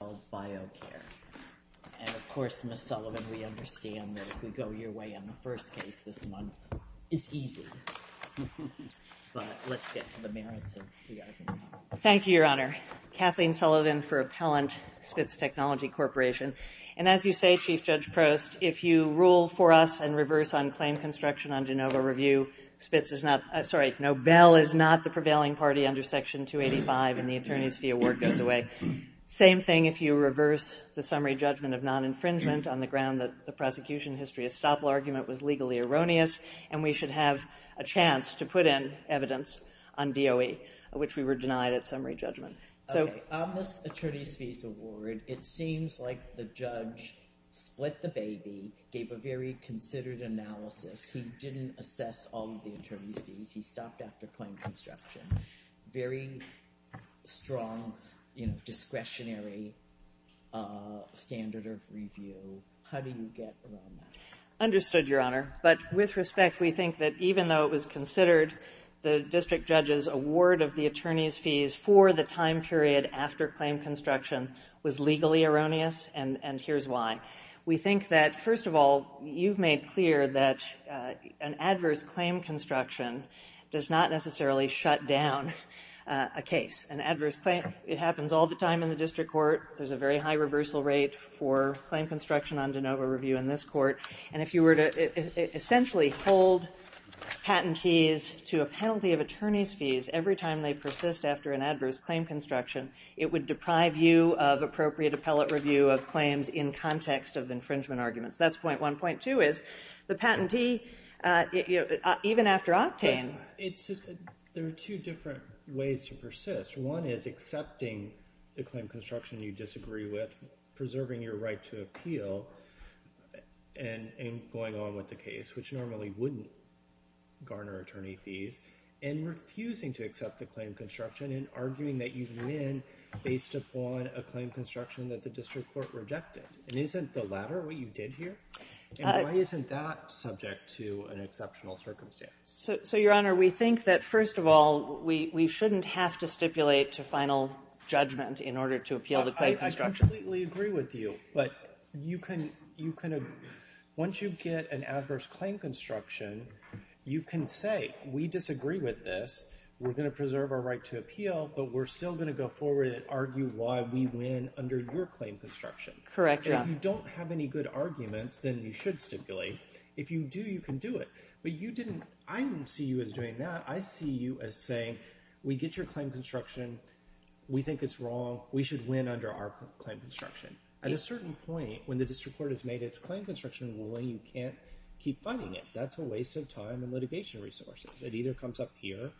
And of course, Ms. Sullivan, we understand that if we go your way on the first case this month, it's easy. But let's get to the merits of the argument. Thank you, Your Honor. Kathleen Sullivan for Appellant, Spitz Technology Corporation. And as you say, Chief Judge Prost, if you rule for us and reverse on claim construction on Genova Review, Nobel is not the prevailing party under Section 285, and the Attorney's Fee Award goes away. Same thing if you reverse the summary judgment of non-infringement on the ground that the prosecution history estoppel argument was legally erroneous, and we should have a chance to put in evidence on DOE, which we were denied at summary judgment. Okay. On this Attorney's Fee Award, it seems like the judge split the baby, gave a very considered analysis. He didn't assess all of the attorney's fees. He stopped after claim construction. Very strong discretionary standard of review. How do you get around that? Understood, Your Honor. But with respect, we think that even though it was considered, the district judge's award of the attorney's fees for the time period after claim construction was legally erroneous, and here's why. We think that, first of all, you've made clear that an adverse claim construction does not necessarily shut down a case. An adverse claim, it happens all the time in the district court. There's a very high reversal rate for claim construction on Genova Review in this court. And if you were to essentially hold patentees to a penalty of attorney's fees every time they persist after an adverse claim construction, it would deprive you of appropriate appellate review of claims in context of infringement arguments. That's point one. Point two is, the patentee, even after octane... There are two different ways to persist. One is accepting the claim construction you disagree with, preserving your right to appeal, and going on with the case, which normally wouldn't garner attorney fees, and refusing to accept the claim construction and arguing that you win based upon a claim construction that the district court rejected. And isn't the latter what you did here? And why isn't that subject to an exceptional circumstance? So, Your Honor, we think that, first of all, we shouldn't have to stipulate to final judgment in order to appeal the claim construction. I completely agree with you, but once you get an adverse claim construction, you can say, we disagree with this, we're going to preserve our right to appeal, but we're still going to go forward and argue why we win under your claim construction. Correct, Your Honor. If you don't have any good arguments, then you should stipulate. If you do, you can do it. But I don't see you as doing that. I see you as saying, we get your claim construction, we think it's wrong, we should win under our claim construction. At a certain point, when the district court has made its claim construction ruling, you can't keep fighting it. That's a waste of time and litigation resources. It either comes up here,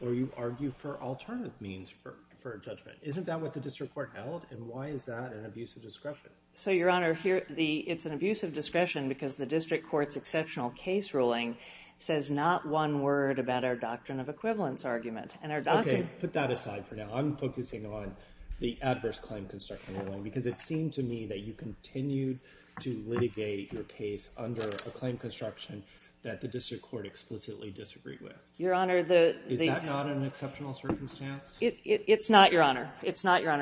or you argue for alternative means for judgment. Isn't that what the district court held, and why is that an abuse of discretion? So, Your Honor, it's an abuse of discretion because the district court's exceptional case ruling says not one word about our doctrine of equivalence argument. Okay, put that aside for now. I'm focusing on the adverse claim construction ruling, because it seemed to me that you continued to litigate your case under a claim construction that the district court explicitly disagreed with. Is that not an exceptional circumstance? It's not, Your Honor.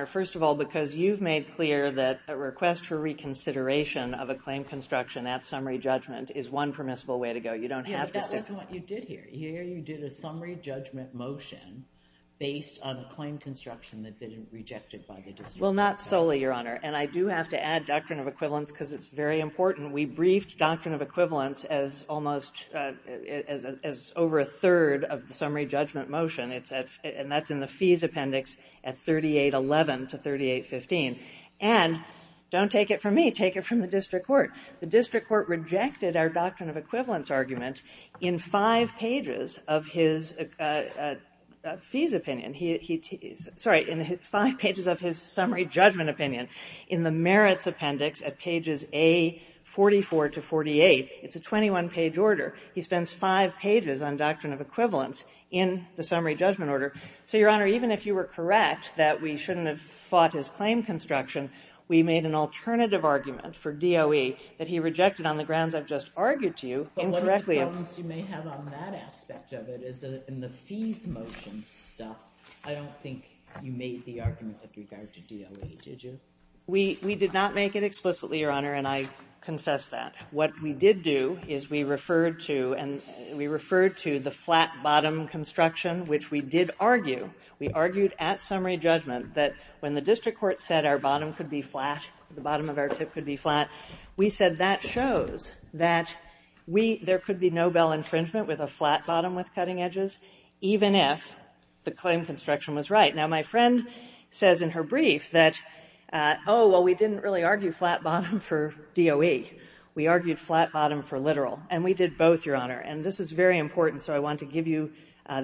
First of all, because you've made clear that a request for reconsideration of a claim construction at summary judgment is one permissible way to go. Yeah, that wasn't what you did here. Here you did a summary judgment motion based on a claim construction that had been rejected by the district court. Well, not solely, Your Honor, and I do have to add doctrine of equivalence because it's very important. We briefed doctrine of equivalence as over a third of the summary judgment motion, and that's in the fees appendix at 3811 to 3815. And, don't take it from me, take it from the district court. The district court rejected our doctrine of equivalence argument in five pages of his fees opinion. Sorry, in five pages of his summary judgment opinion. In the merits appendix at pages A44 to 48, it's a 21-page order. He spends five pages on doctrine of equivalence in the summary judgment order. So, Your Honor, even if you were correct that we shouldn't have fought his claim construction, we made an alternative argument for DOE that he rejected on the grounds I've just argued to you. But one of the problems you may have on that aspect of it is that in the fees motion stuff, I don't think you made the argument with regard to DOE, did you? We did not make it explicitly, Your Honor, and I confess that. What we did do is we referred to the flat-bottom construction, which we did argue. We argued at summary judgment that when the district court said our bottom could be flat, the bottom of our tip could be flat, we said that shows that we, there could be no bell infringement with a flat-bottom with cutting edges, even if the claim construction was right. Now, my friend says in her brief that, oh, well, we didn't really argue flat-bottom for DOE. We argued flat-bottom for literal. And we did both, Your Honor. And this is very important, so I want to give you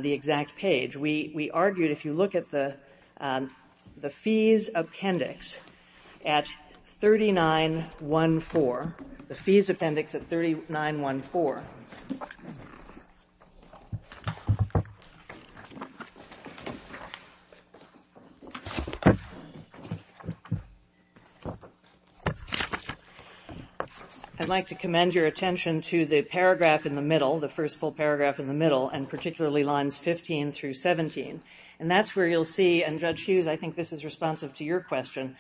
the exact page. We argued, if you look at the fees appendix at 3914, the fees appendix at 3914. I'd like to commend your attention to the paragraph in the middle, the first full paragraph in the middle, and particularly lines 15 through 17. And that's where you'll see, and Judge Hughes, I think this is responsive to your question,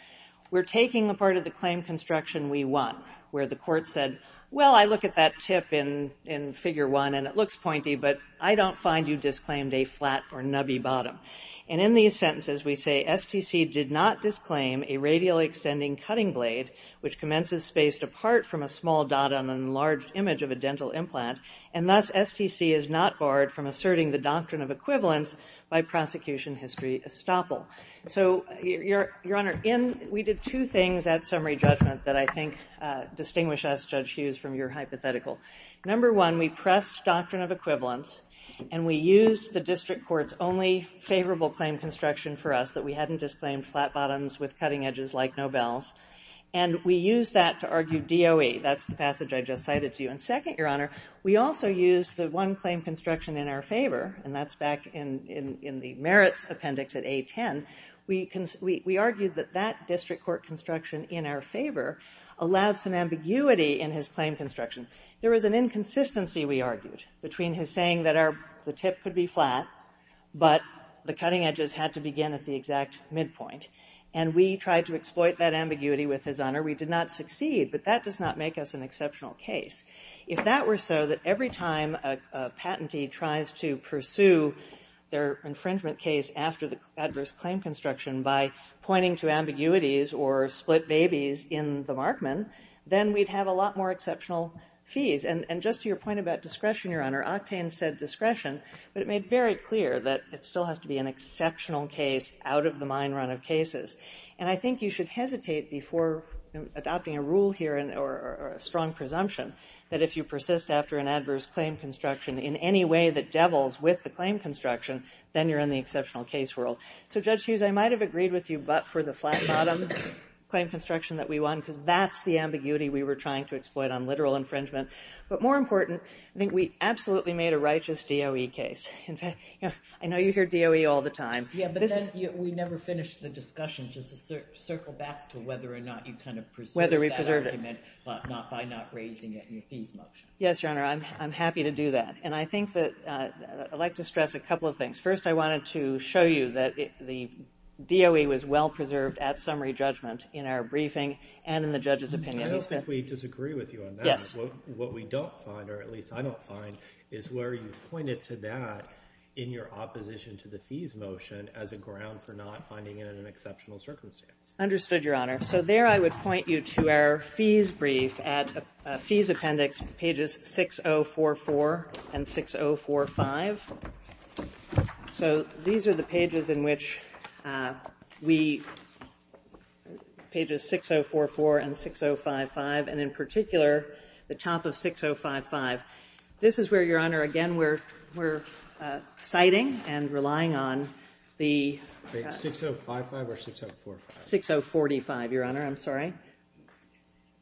we're taking the part of the claim construction we want, where the court said, well, I look at that tip in figure one and it looks pointy, but I don't find you disclaimed a flat or nubby bottom. And in these sentences, we say STC did not disclaim a radial extending cutting blade, which commences spaced apart from a small dot on an enlarged image of a dental implant, and thus STC is not barred from asserting the doctrine of equivalence by prosecution history estoppel. So, Your Honor, we did two things at summary judgment that I think distinguish us, Judge Hughes, from your hypothetical. Number one, we pressed doctrine of equivalence, and we used the district court's only favorable claim construction for us, that we hadn't disclaimed flat bottoms with cutting edges like Nobel's. And we used that to argue DOE. That's the passage I just cited to you. And second, Your Honor, we also used the one claim construction in our favor, and that's back in the merits appendix at A10. We argued that that district court construction in our favor allowed some ambiguity in his claim construction. There was an inconsistency, we argued, between his saying that the tip could be flat, but the cutting edges had to begin at the exact midpoint. And we tried to exploit that ambiguity with his honor. We did not succeed, but that does not make us an exceptional case. If that were so, that every time a patentee tries to pursue their infringement case after the adverse claim construction by pointing to ambiguities or split babies in the Markman, then we'd have a lot more exceptional fees. And just to your point about discretion, Your Honor, Octane said discretion, but it made very clear that it still has to be an exceptional case out of the mine run of cases. And I think you should hesitate before adopting a rule here or a strong presumption that if you persist after an adverse claim construction in any way that devils with the claim construction, then you're in the exceptional case world. So, Judge Hughes, I might have agreed with you but for the flat bottom claim construction that we won because that's the ambiguity we were trying to exploit on literal infringement. But more important, I think we absolutely made a righteous DOE case. In fact, I know you hear DOE all the time. Yeah, but then we never finished the discussion. Just to circle back to whether or not you kind of pursued that argument by not raising it in your fees motion. Yes, Your Honor. I'm happy to do that. And I think that I'd like to stress a couple of things. First, I wanted to show you that the DOE was well-preserved at summary judgment in our briefing and in the judge's opinion. I don't think we disagree with you on that. What we don't find, or at least I don't find, is where you pointed to that in your opposition to the fees motion as a ground for not finding it in an exceptional circumstance. Understood, Your Honor. So there I would point you to our fees brief at fees appendix pages 6044 and 6045. So these are the pages in which we – pages 6044 and 6055, and in particular, the top of 6055. This is where, Your Honor, again, we're citing and relying on the – 6055 or 6045? 6045, Your Honor. I'm sorry.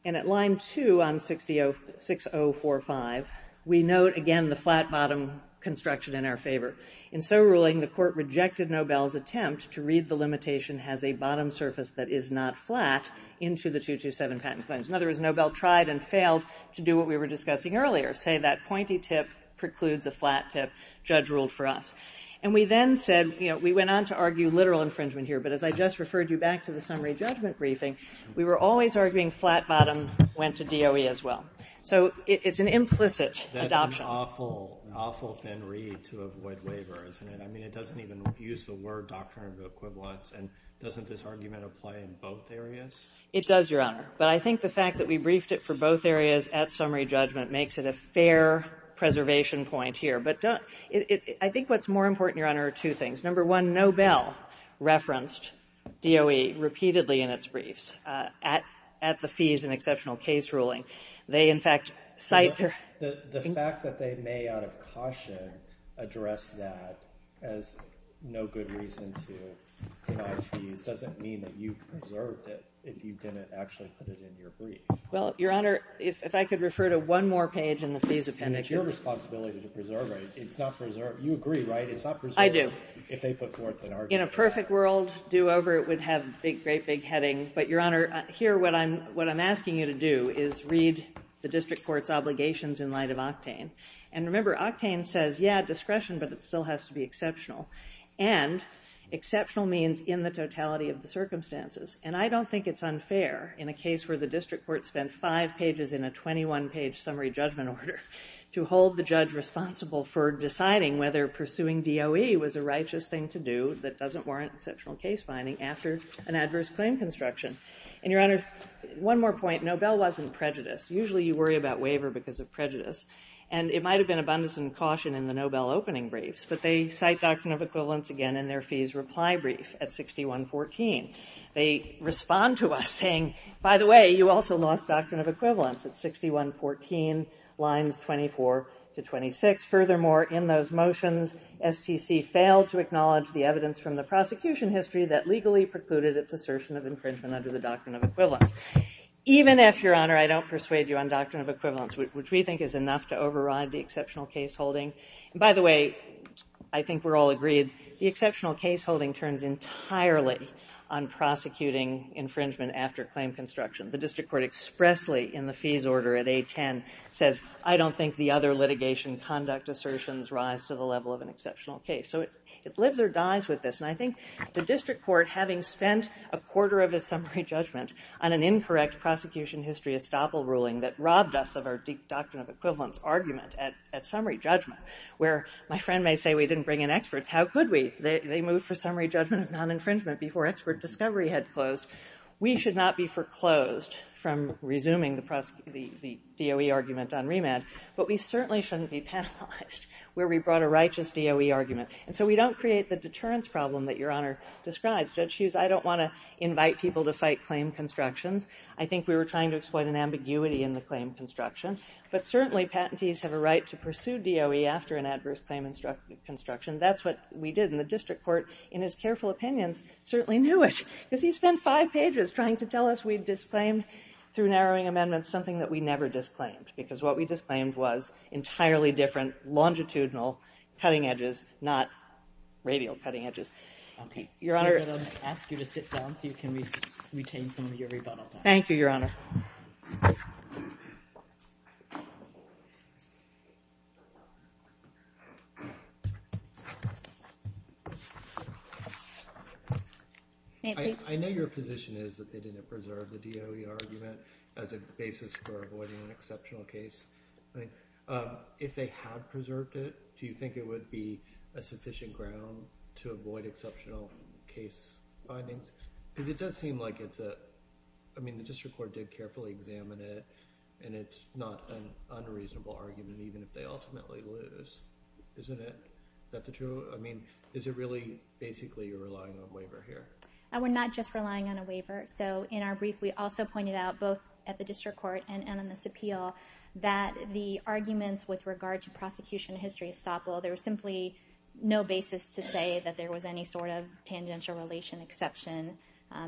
And at line 2 on 6045, we note, again, the flat-bottom construction in our favor. In so ruling, the Court rejected Nobel's attempt to read the limitation as a bottom surface that is not flat into the 227 patent claims. In other words, Nobel tried and failed to do what we were discussing earlier, say that pointy tip precludes a flat tip, judge ruled for us. And we then said – we went on to argue literal infringement here, but as I just referred you back to the summary judgment briefing, we were always arguing flat-bottom went to DOE as well. So it's an implicit adoption. That's an awful, awful thin read to avoid waiver, isn't it? I mean, it doesn't even use the word doctrinal equivalence, and doesn't this argument apply in both areas? It does, Your Honor. But I think the fact that we briefed it for both areas at summary judgment makes it a fair preservation point here. But I think what's more important, Your Honor, are two things. Number one, Nobel referenced DOE repeatedly in its briefs at the fees and exceptional case ruling. They, in fact, cite their – The fact that they may out of caution address that as no good reason to charge fees doesn't mean that you preserved it if you didn't actually put it in your brief. Well, Your Honor, if I could refer to one more page in the fees appendix. And it's your responsibility to preserve it. It's not preserved. You agree, right? It's not preserved. I do. If they put forth an argument. In a perfect world, do over it would have a great, big heading. But, Your Honor, here what I'm asking you to do is read the district court's obligations in light of octane. And remember, octane says, yeah, discretion, but it still has to be exceptional. And exceptional means in the totality of the circumstances. And I don't think it's unfair in a case where the district court spent five pages in a 21-page summary judgment order to hold the judge responsible for deciding whether pursuing DOE was a righteous thing to do that doesn't warrant exceptional case finding after an adverse claim construction. And, Your Honor, one more point. Nobel wasn't prejudiced. Usually you worry about waiver because of prejudice. And it might have been abundance and caution in the Nobel opening briefs, but they cite doctrine of equivalence again in their fees reply brief at 6114. They respond to us saying, by the way, you also lost doctrine of equivalence at 6114 lines 24 to 26. Furthermore, in those motions, STC failed to acknowledge the evidence from the prosecution history that legally precluded its assertion of infringement under the doctrine of equivalence. Even if, Your Honor, I don't persuade you on doctrine of equivalence, which we think is enough to override the exceptional case holding. And, by the way, I think we're all agreed, the exceptional case holding turns entirely on prosecuting infringement after claim construction. The district court expressly in the fees order at 810 says, I don't think the other litigation conduct assertions rise to the level of an exceptional case. So it lives or dies with this. And I think the district court, having spent a quarter of its summary judgment on an incorrect prosecution history estoppel ruling that robbed us of our doctrine of equivalence argument at summary judgment where my friend may say we didn't bring in experts. How could we? They moved for summary judgment of non-infringement before expert discovery had closed. We should not be foreclosed from resuming the DOE argument on remand. But we certainly shouldn't be penalized where we brought a righteous DOE argument. And so we don't create the deterrence problem that Your Honor describes. Judge Hughes, I don't want to invite people to fight claim constructions. I think we were trying to exploit an ambiguity in the claim construction. But certainly, patentees have a right to pursue DOE after an adverse claim construction. That's what we did. And the district court, in its careful opinions, certainly knew it. Because he spent five pages trying to tell us we disclaimed, through narrowing amendments, something that we never disclaimed. Because what we disclaimed was entirely different longitudinal cutting edges, not radial cutting edges. Your Honor. I'm going to ask you to sit down so you can retain some of your rebuttal time. Thank you, Your Honor. Thank you. I know your position is that they didn't preserve the DOE argument as a basis for avoiding an exceptional case. If they had preserved it, do you think it would be a sufficient ground to avoid exceptional case findings? Because it does seem like it's a, I mean, the district court did carefully examine it. And it's not an unreasonable argument, even if they ultimately lose. Isn't it? Is that the truth? I mean, is it really basically you're relying on waiver here? We're not just relying on a waiver. So in our brief, we also pointed out, both at the district court and on this appeal, that the arguments with regard to prosecution of history estoppel, there was simply no basis to say that there was any sort of tangential or relation exception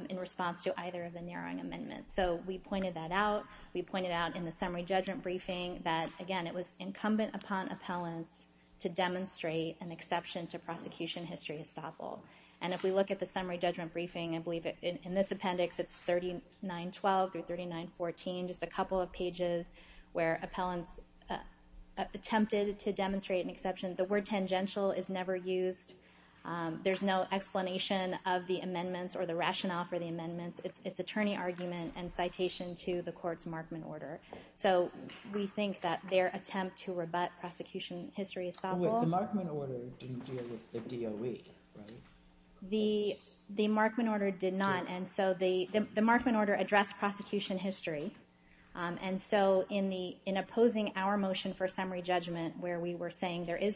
in response to either of the narrowing amendments. So we pointed that out. We pointed out in the summary judgment briefing that, again, it was incumbent upon appellants to demonstrate an exception to prosecution history estoppel. And if we look at the summary judgment briefing, I believe in this appendix it's 3912 through 3914, just a couple of pages where appellants attempted to demonstrate an exception. The word tangential is never used. There's no explanation of the amendments or the rationale for the amendments. It's attorney argument and citation to the court's Markman order. So we think that their attempt to rebut prosecution history estoppel. The Markman order didn't deal with the DOE, right? The Markman order did not. And so the Markman order addressed prosecution history. And so in opposing our motion for summary judgment where we were saying there is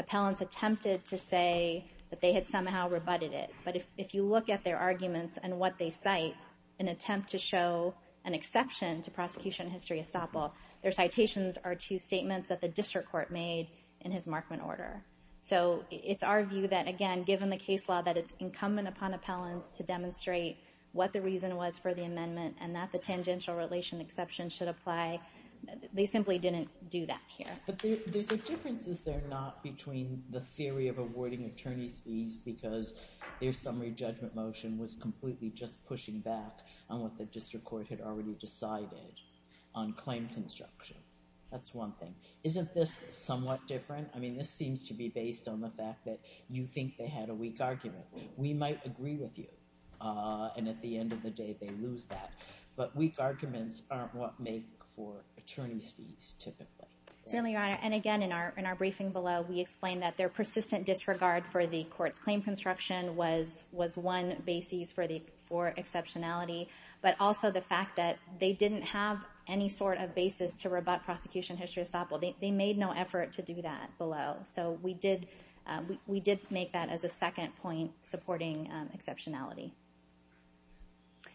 appellants attempted to say that they had somehow rebutted it. But if you look at their arguments and what they cite, an attempt to show an exception to prosecution history estoppel, their citations are two statements that the district court made in his Markman order. So it's our view that, again, given the case law, that it's incumbent upon appellants to demonstrate what the reason was for the amendment and that the tangential relation exception should apply. They simply didn't do that here. But there's a difference, is there, not between the theory of awarding attorney's fees because their summary judgment motion was completely just pushing back on what the district court had already decided on claim construction. That's one thing. Isn't this somewhat different? I mean, this seems to be based on the fact that you think they had a weak argument. We might agree with you, and at the end of the day they lose that. But weak arguments aren't what make for attorney's fees typically. Certainly, Your Honor. And again, in our briefing below, we explained that their persistent disregard for the court's claim construction was one basis for exceptionality, but also the fact that they didn't have any sort of basis to rebut prosecution history estoppel. They made no effort to do that below. So we did make that as a second point supporting exceptionality.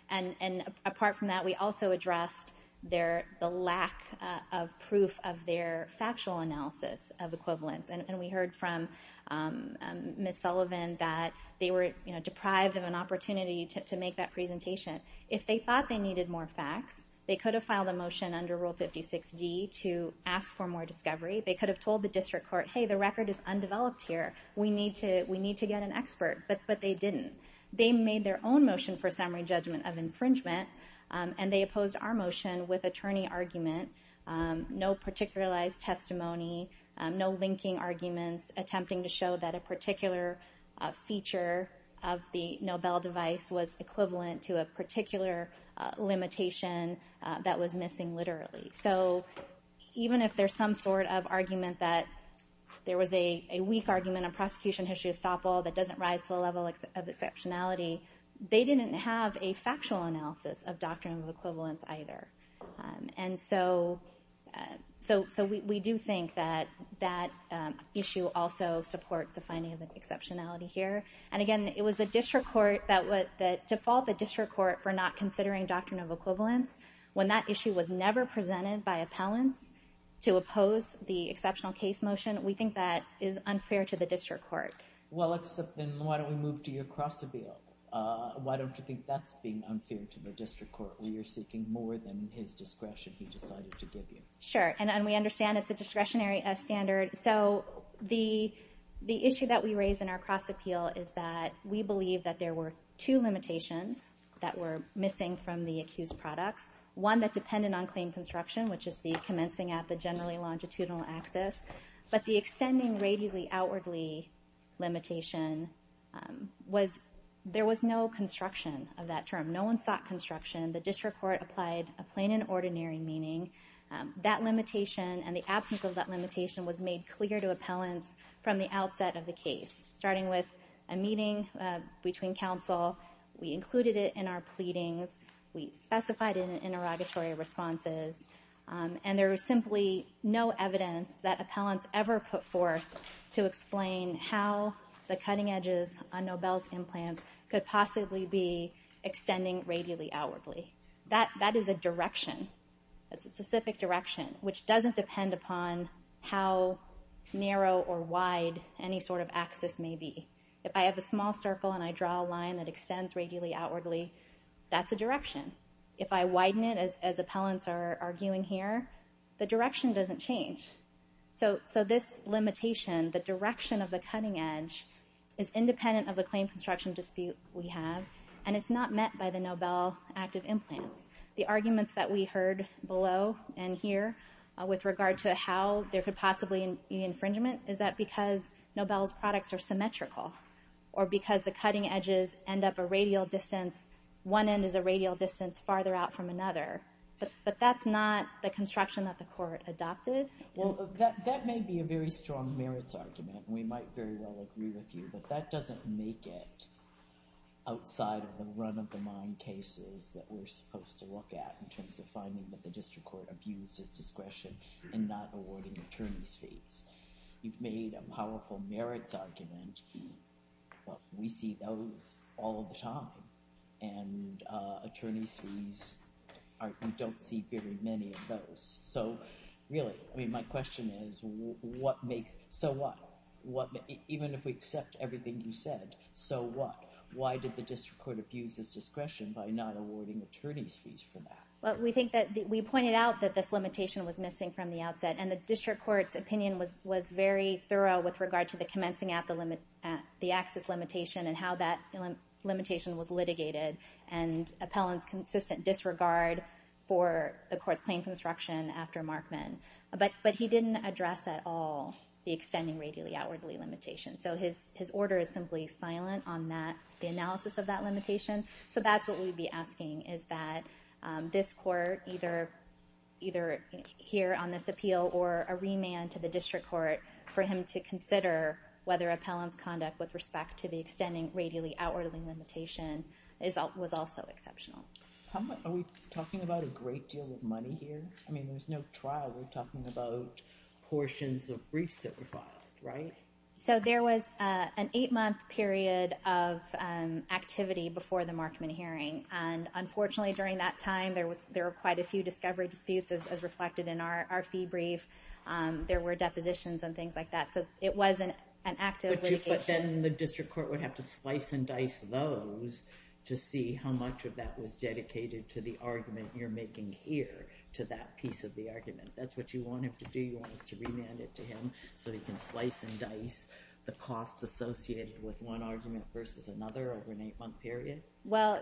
And apart from that, we also addressed the lack of proof of their factual analysis of equivalence. And we heard from Ms. Sullivan that they were deprived of an opportunity to make that presentation. If they thought they needed more facts, they could have filed a motion under Rule 56D to ask for more discovery. They could have told the district court, hey, the record is undeveloped here. We need to get an expert. But they didn't. They made their own motion for summary judgment of infringement, and they opposed our motion with attorney argument, no particularized testimony, no linking arguments attempting to show that a particular feature of the Nobel device was equivalent to a particular limitation that was missing literally. So even if there's some sort of argument that there was a weak argument on finding exceptionality, they didn't have a factual analysis of doctrine of equivalence either. And so we do think that that issue also supports a finding of exceptionality here. And again, it was the district court that defaulted the district court for not considering doctrine of equivalence. When that issue was never presented by appellants to oppose the exceptional case motion, we think that is unfair to the district court. Well, except then why don't we move to your cross appeal? Why don't you think that's being unfair to the district court where you're seeking more than his discretion he decided to give you? Sure. And we understand it's a discretionary standard. So the issue that we raised in our cross appeal is that we believe that there were two limitations that were missing from the accused products, one that depended on claim construction, which is the commencing at the generally longitudinal axis, but the extending radially outwardly limitation was there was no construction of that term. No one sought construction. The district court applied a plain and ordinary meaning that limitation and the absence of that limitation was made clear to appellants from the outset of the case, starting with a meeting between council. We included it in our pleadings. We specified in interrogatory responses and there was simply no evidence that appellants ever put forth to explain how the cutting edges on Nobel's implants could possibly be extending radially outwardly. That is a direction. That's a specific direction, which doesn't depend upon how narrow or wide any sort of axis may be. If I have a small circle and I draw a line that extends radially outwardly, that's a direction. If I widen it, as appellants are arguing here, the direction doesn't change. So this limitation, the direction of the cutting edge, is independent of the claim construction dispute we have, and it's not met by the Nobel active implants. The arguments that we heard below and here with regard to how there could possibly be infringement is that because Nobel's products are symmetrical or because the cutting edges end up a radial distance. One end is a radial distance farther out from another. But that's not the construction that the court adopted. Well, that may be a very strong merits argument, and we might very well agree with you, but that doesn't make it outside of the run-of-the-mind cases that we're supposed to look at in terms of finding that the district court abused its discretion in not awarding attorneys' fees. You've made a powerful merits argument. We see those all the time, and attorneys' fees, we don't see very many of those. So really, my question is, so what? Even if we accept everything you said, so what? Why did the district court abuse its discretion by not awarding attorneys' fees for that? We pointed out that this limitation was missing from the outset, and the district court's opinion was very thorough with regard to the commencing at the axis limitation and how that limitation was litigated and appellant's consistent disregard for the court's claim construction after Markman. But he didn't address at all the extending radially outwardly limitation. So his order is simply silent on the analysis of that limitation. So that's what we'd be asking, is that this court, either here on this appeal or a remand to the district court, for him to consider whether appellant's conduct with respect to the extending radially outwardly limitation was also exceptional. Are we talking about a great deal of money here? I mean, there's no trial. We're talking about portions of briefs that were filed, right? So there was an eight-month period of activity before the Markman hearing, and unfortunately, during that time, there were quite a few discovery disputes as reflected in our fee brief. There were depositions and things like that. So it was an active litigation. But then the district court would have to slice and dice those to see how much of that was dedicated to the argument you're making here, to that piece of the argument. If that's what you want him to do, you want us to remand it to him so he can slice and dice the costs associated with one argument versus another over an eight-month period? Well,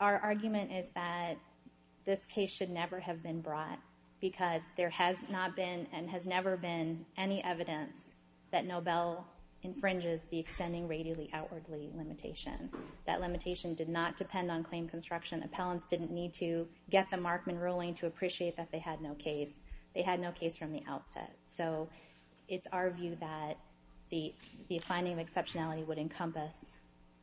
our argument is that this case should never have been brought because there has not been and has never been any evidence that Nobel infringes the extending radially outwardly limitation. That limitation did not depend on claim construction. Appellants didn't need to get the Markman ruling to appreciate that they had no case. They had no case from the outset. So it's our view that the finding of exceptionality would encompass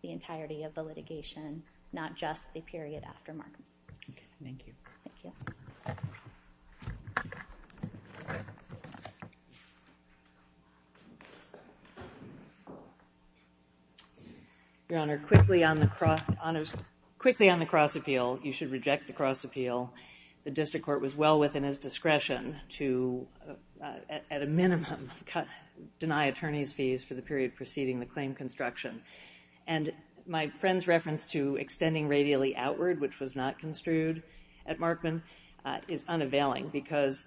the entirety of the litigation, not just the period after Markman. Okay, thank you. Thank you. Your Honor, quickly on the cross appeal, you should reject the cross appeal. The district court was well within its discretion to, at a minimum, deny attorneys' fees for the period preceding the claim construction. And my friend's reference to extending radially outward, which was not construed at Markman, is unavailing because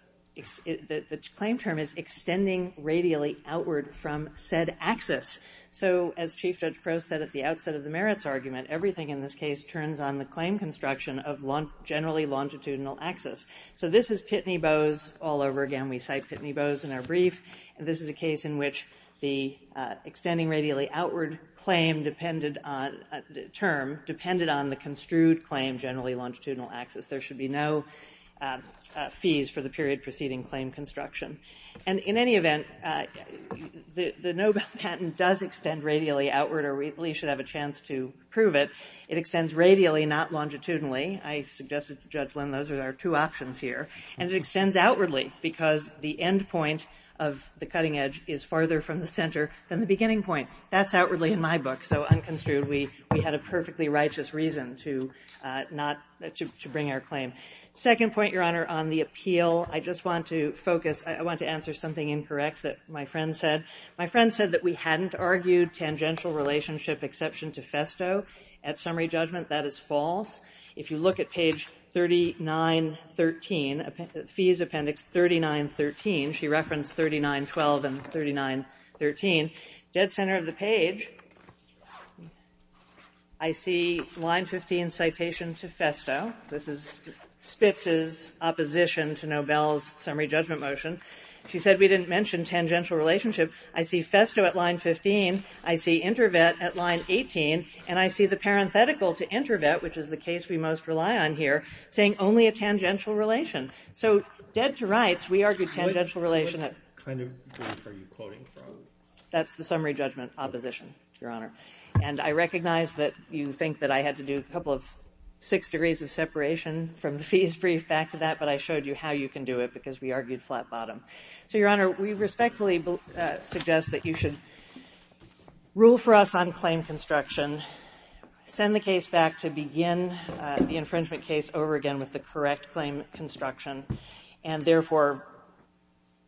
the claim term is extending radially outward from said axis. So as Chief Judge Crowe said at the outset of the merits argument, everything in this case turns on the claim construction of generally longitudinal axis. So this is Pitney Bowes all over again. We cite Pitney Bowes in our brief. This is a case in which the extending radially outward term depended on the construed claim generally longitudinal axis. There should be no fees for the period preceding claim construction. And in any event, the Nobel patent does extend radially outward, or we should have a chance to prove it. It extends radially, not longitudinally. I suggested to Judge Lynn those are our two options here. And it extends outwardly because the end point of the cutting edge is farther from the center than the beginning point. That's outwardly in my book. So unconstrued, we had a perfectly righteous reason to bring our claim. Second point, Your Honor, on the appeal. I just want to focus. I want to answer something incorrect that my friend said. My friend said that we hadn't argued tangential relationship exception to Festo. At summary judgment, that is false. If you look at page 3913, Fees Appendix 3913, she referenced 3912 and 3913. Dead center of the page, I see line 15 citation to Festo. This is Spitz's opposition to Nobel's summary judgment motion. She said we didn't mention tangential relationship. I see Festo at line 15. I see InterVet at line 18. And I see the parenthetical to InterVet, which is the case we most rely on here, saying only a tangential relation. So dead to rights, we argued tangential relation. That's the summary judgment opposition, Your Honor. And I recognize that you think that I had to do a couple of six degrees of separation from the fees brief back to that, but I showed you how you can do it because we argued flat bottom. So, Your Honor, we respectfully suggest that you should rule for us on claim construction, send the case back to begin the infringement case over again with the correct claim construction, and therefore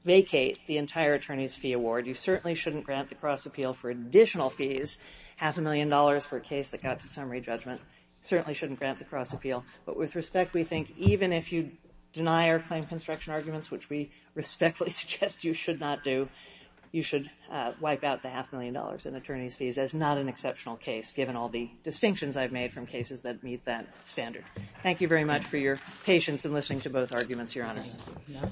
vacate the entire attorney's fee award. You certainly shouldn't grant the cross appeal for additional fees, half a million dollars for a case that got to summary judgment. You certainly shouldn't grant the cross appeal. But with respect, we think even if you deny our claim construction arguments, which we respectfully suggest you should not do, you should wipe out the half a million dollars in attorney's fees. That's not an exceptional case given all the distinctions I've made from cases that meet that standard. Thank you very much for your patience in listening to both arguments, Your Honor.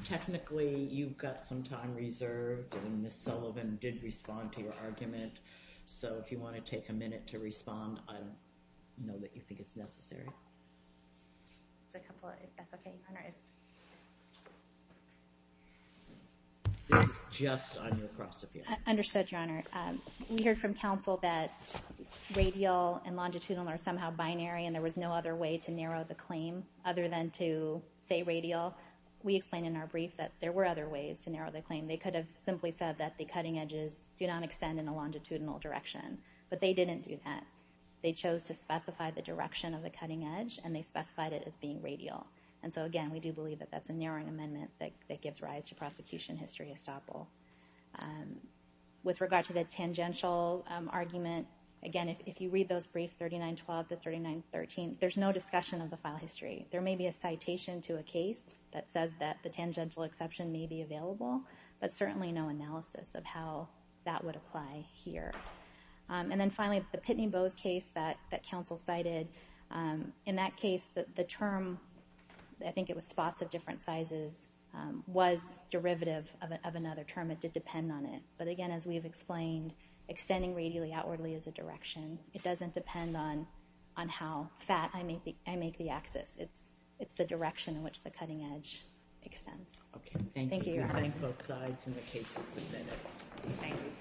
Technically, you've got some time reserved, and Ms. Sullivan did respond to your argument. So if you want to take a minute to respond, I don't know that you think it's necessary. This is just on your cross appeal. Understood, Your Honor. We heard from counsel that radial and longitudinal are somehow binary, and there was no other way to narrow the claim other than to say radial. We explained in our brief that there were other ways to narrow the claim. They could have simply said that the cutting edges do not extend in a longitudinal direction, but they didn't do that. They chose to specify the direction of the cutting edge, and they specified it as being radial. And so, again, we do believe that that's a narrowing amendment that gives rise to prosecution history estoppel. With regard to the tangential argument, again, if you read those briefs, 3912 to 3913, there's no discussion of the file history. There may be a citation to a case that says that the tangential exception may be available, but certainly no analysis of how that would apply here. And then, finally, the Pitney Bowes case that counsel cited, in that case, the term, I think it was spots of different sizes, was derivative of another term. It did depend on it. But, again, as we have explained, extending radially outwardly is a direction. It doesn't depend on how fat I make the axis. It's the direction in which the cutting edge extends. Okay. Thank you. Thank you. We thank both sides and the cases submitted. Thank you.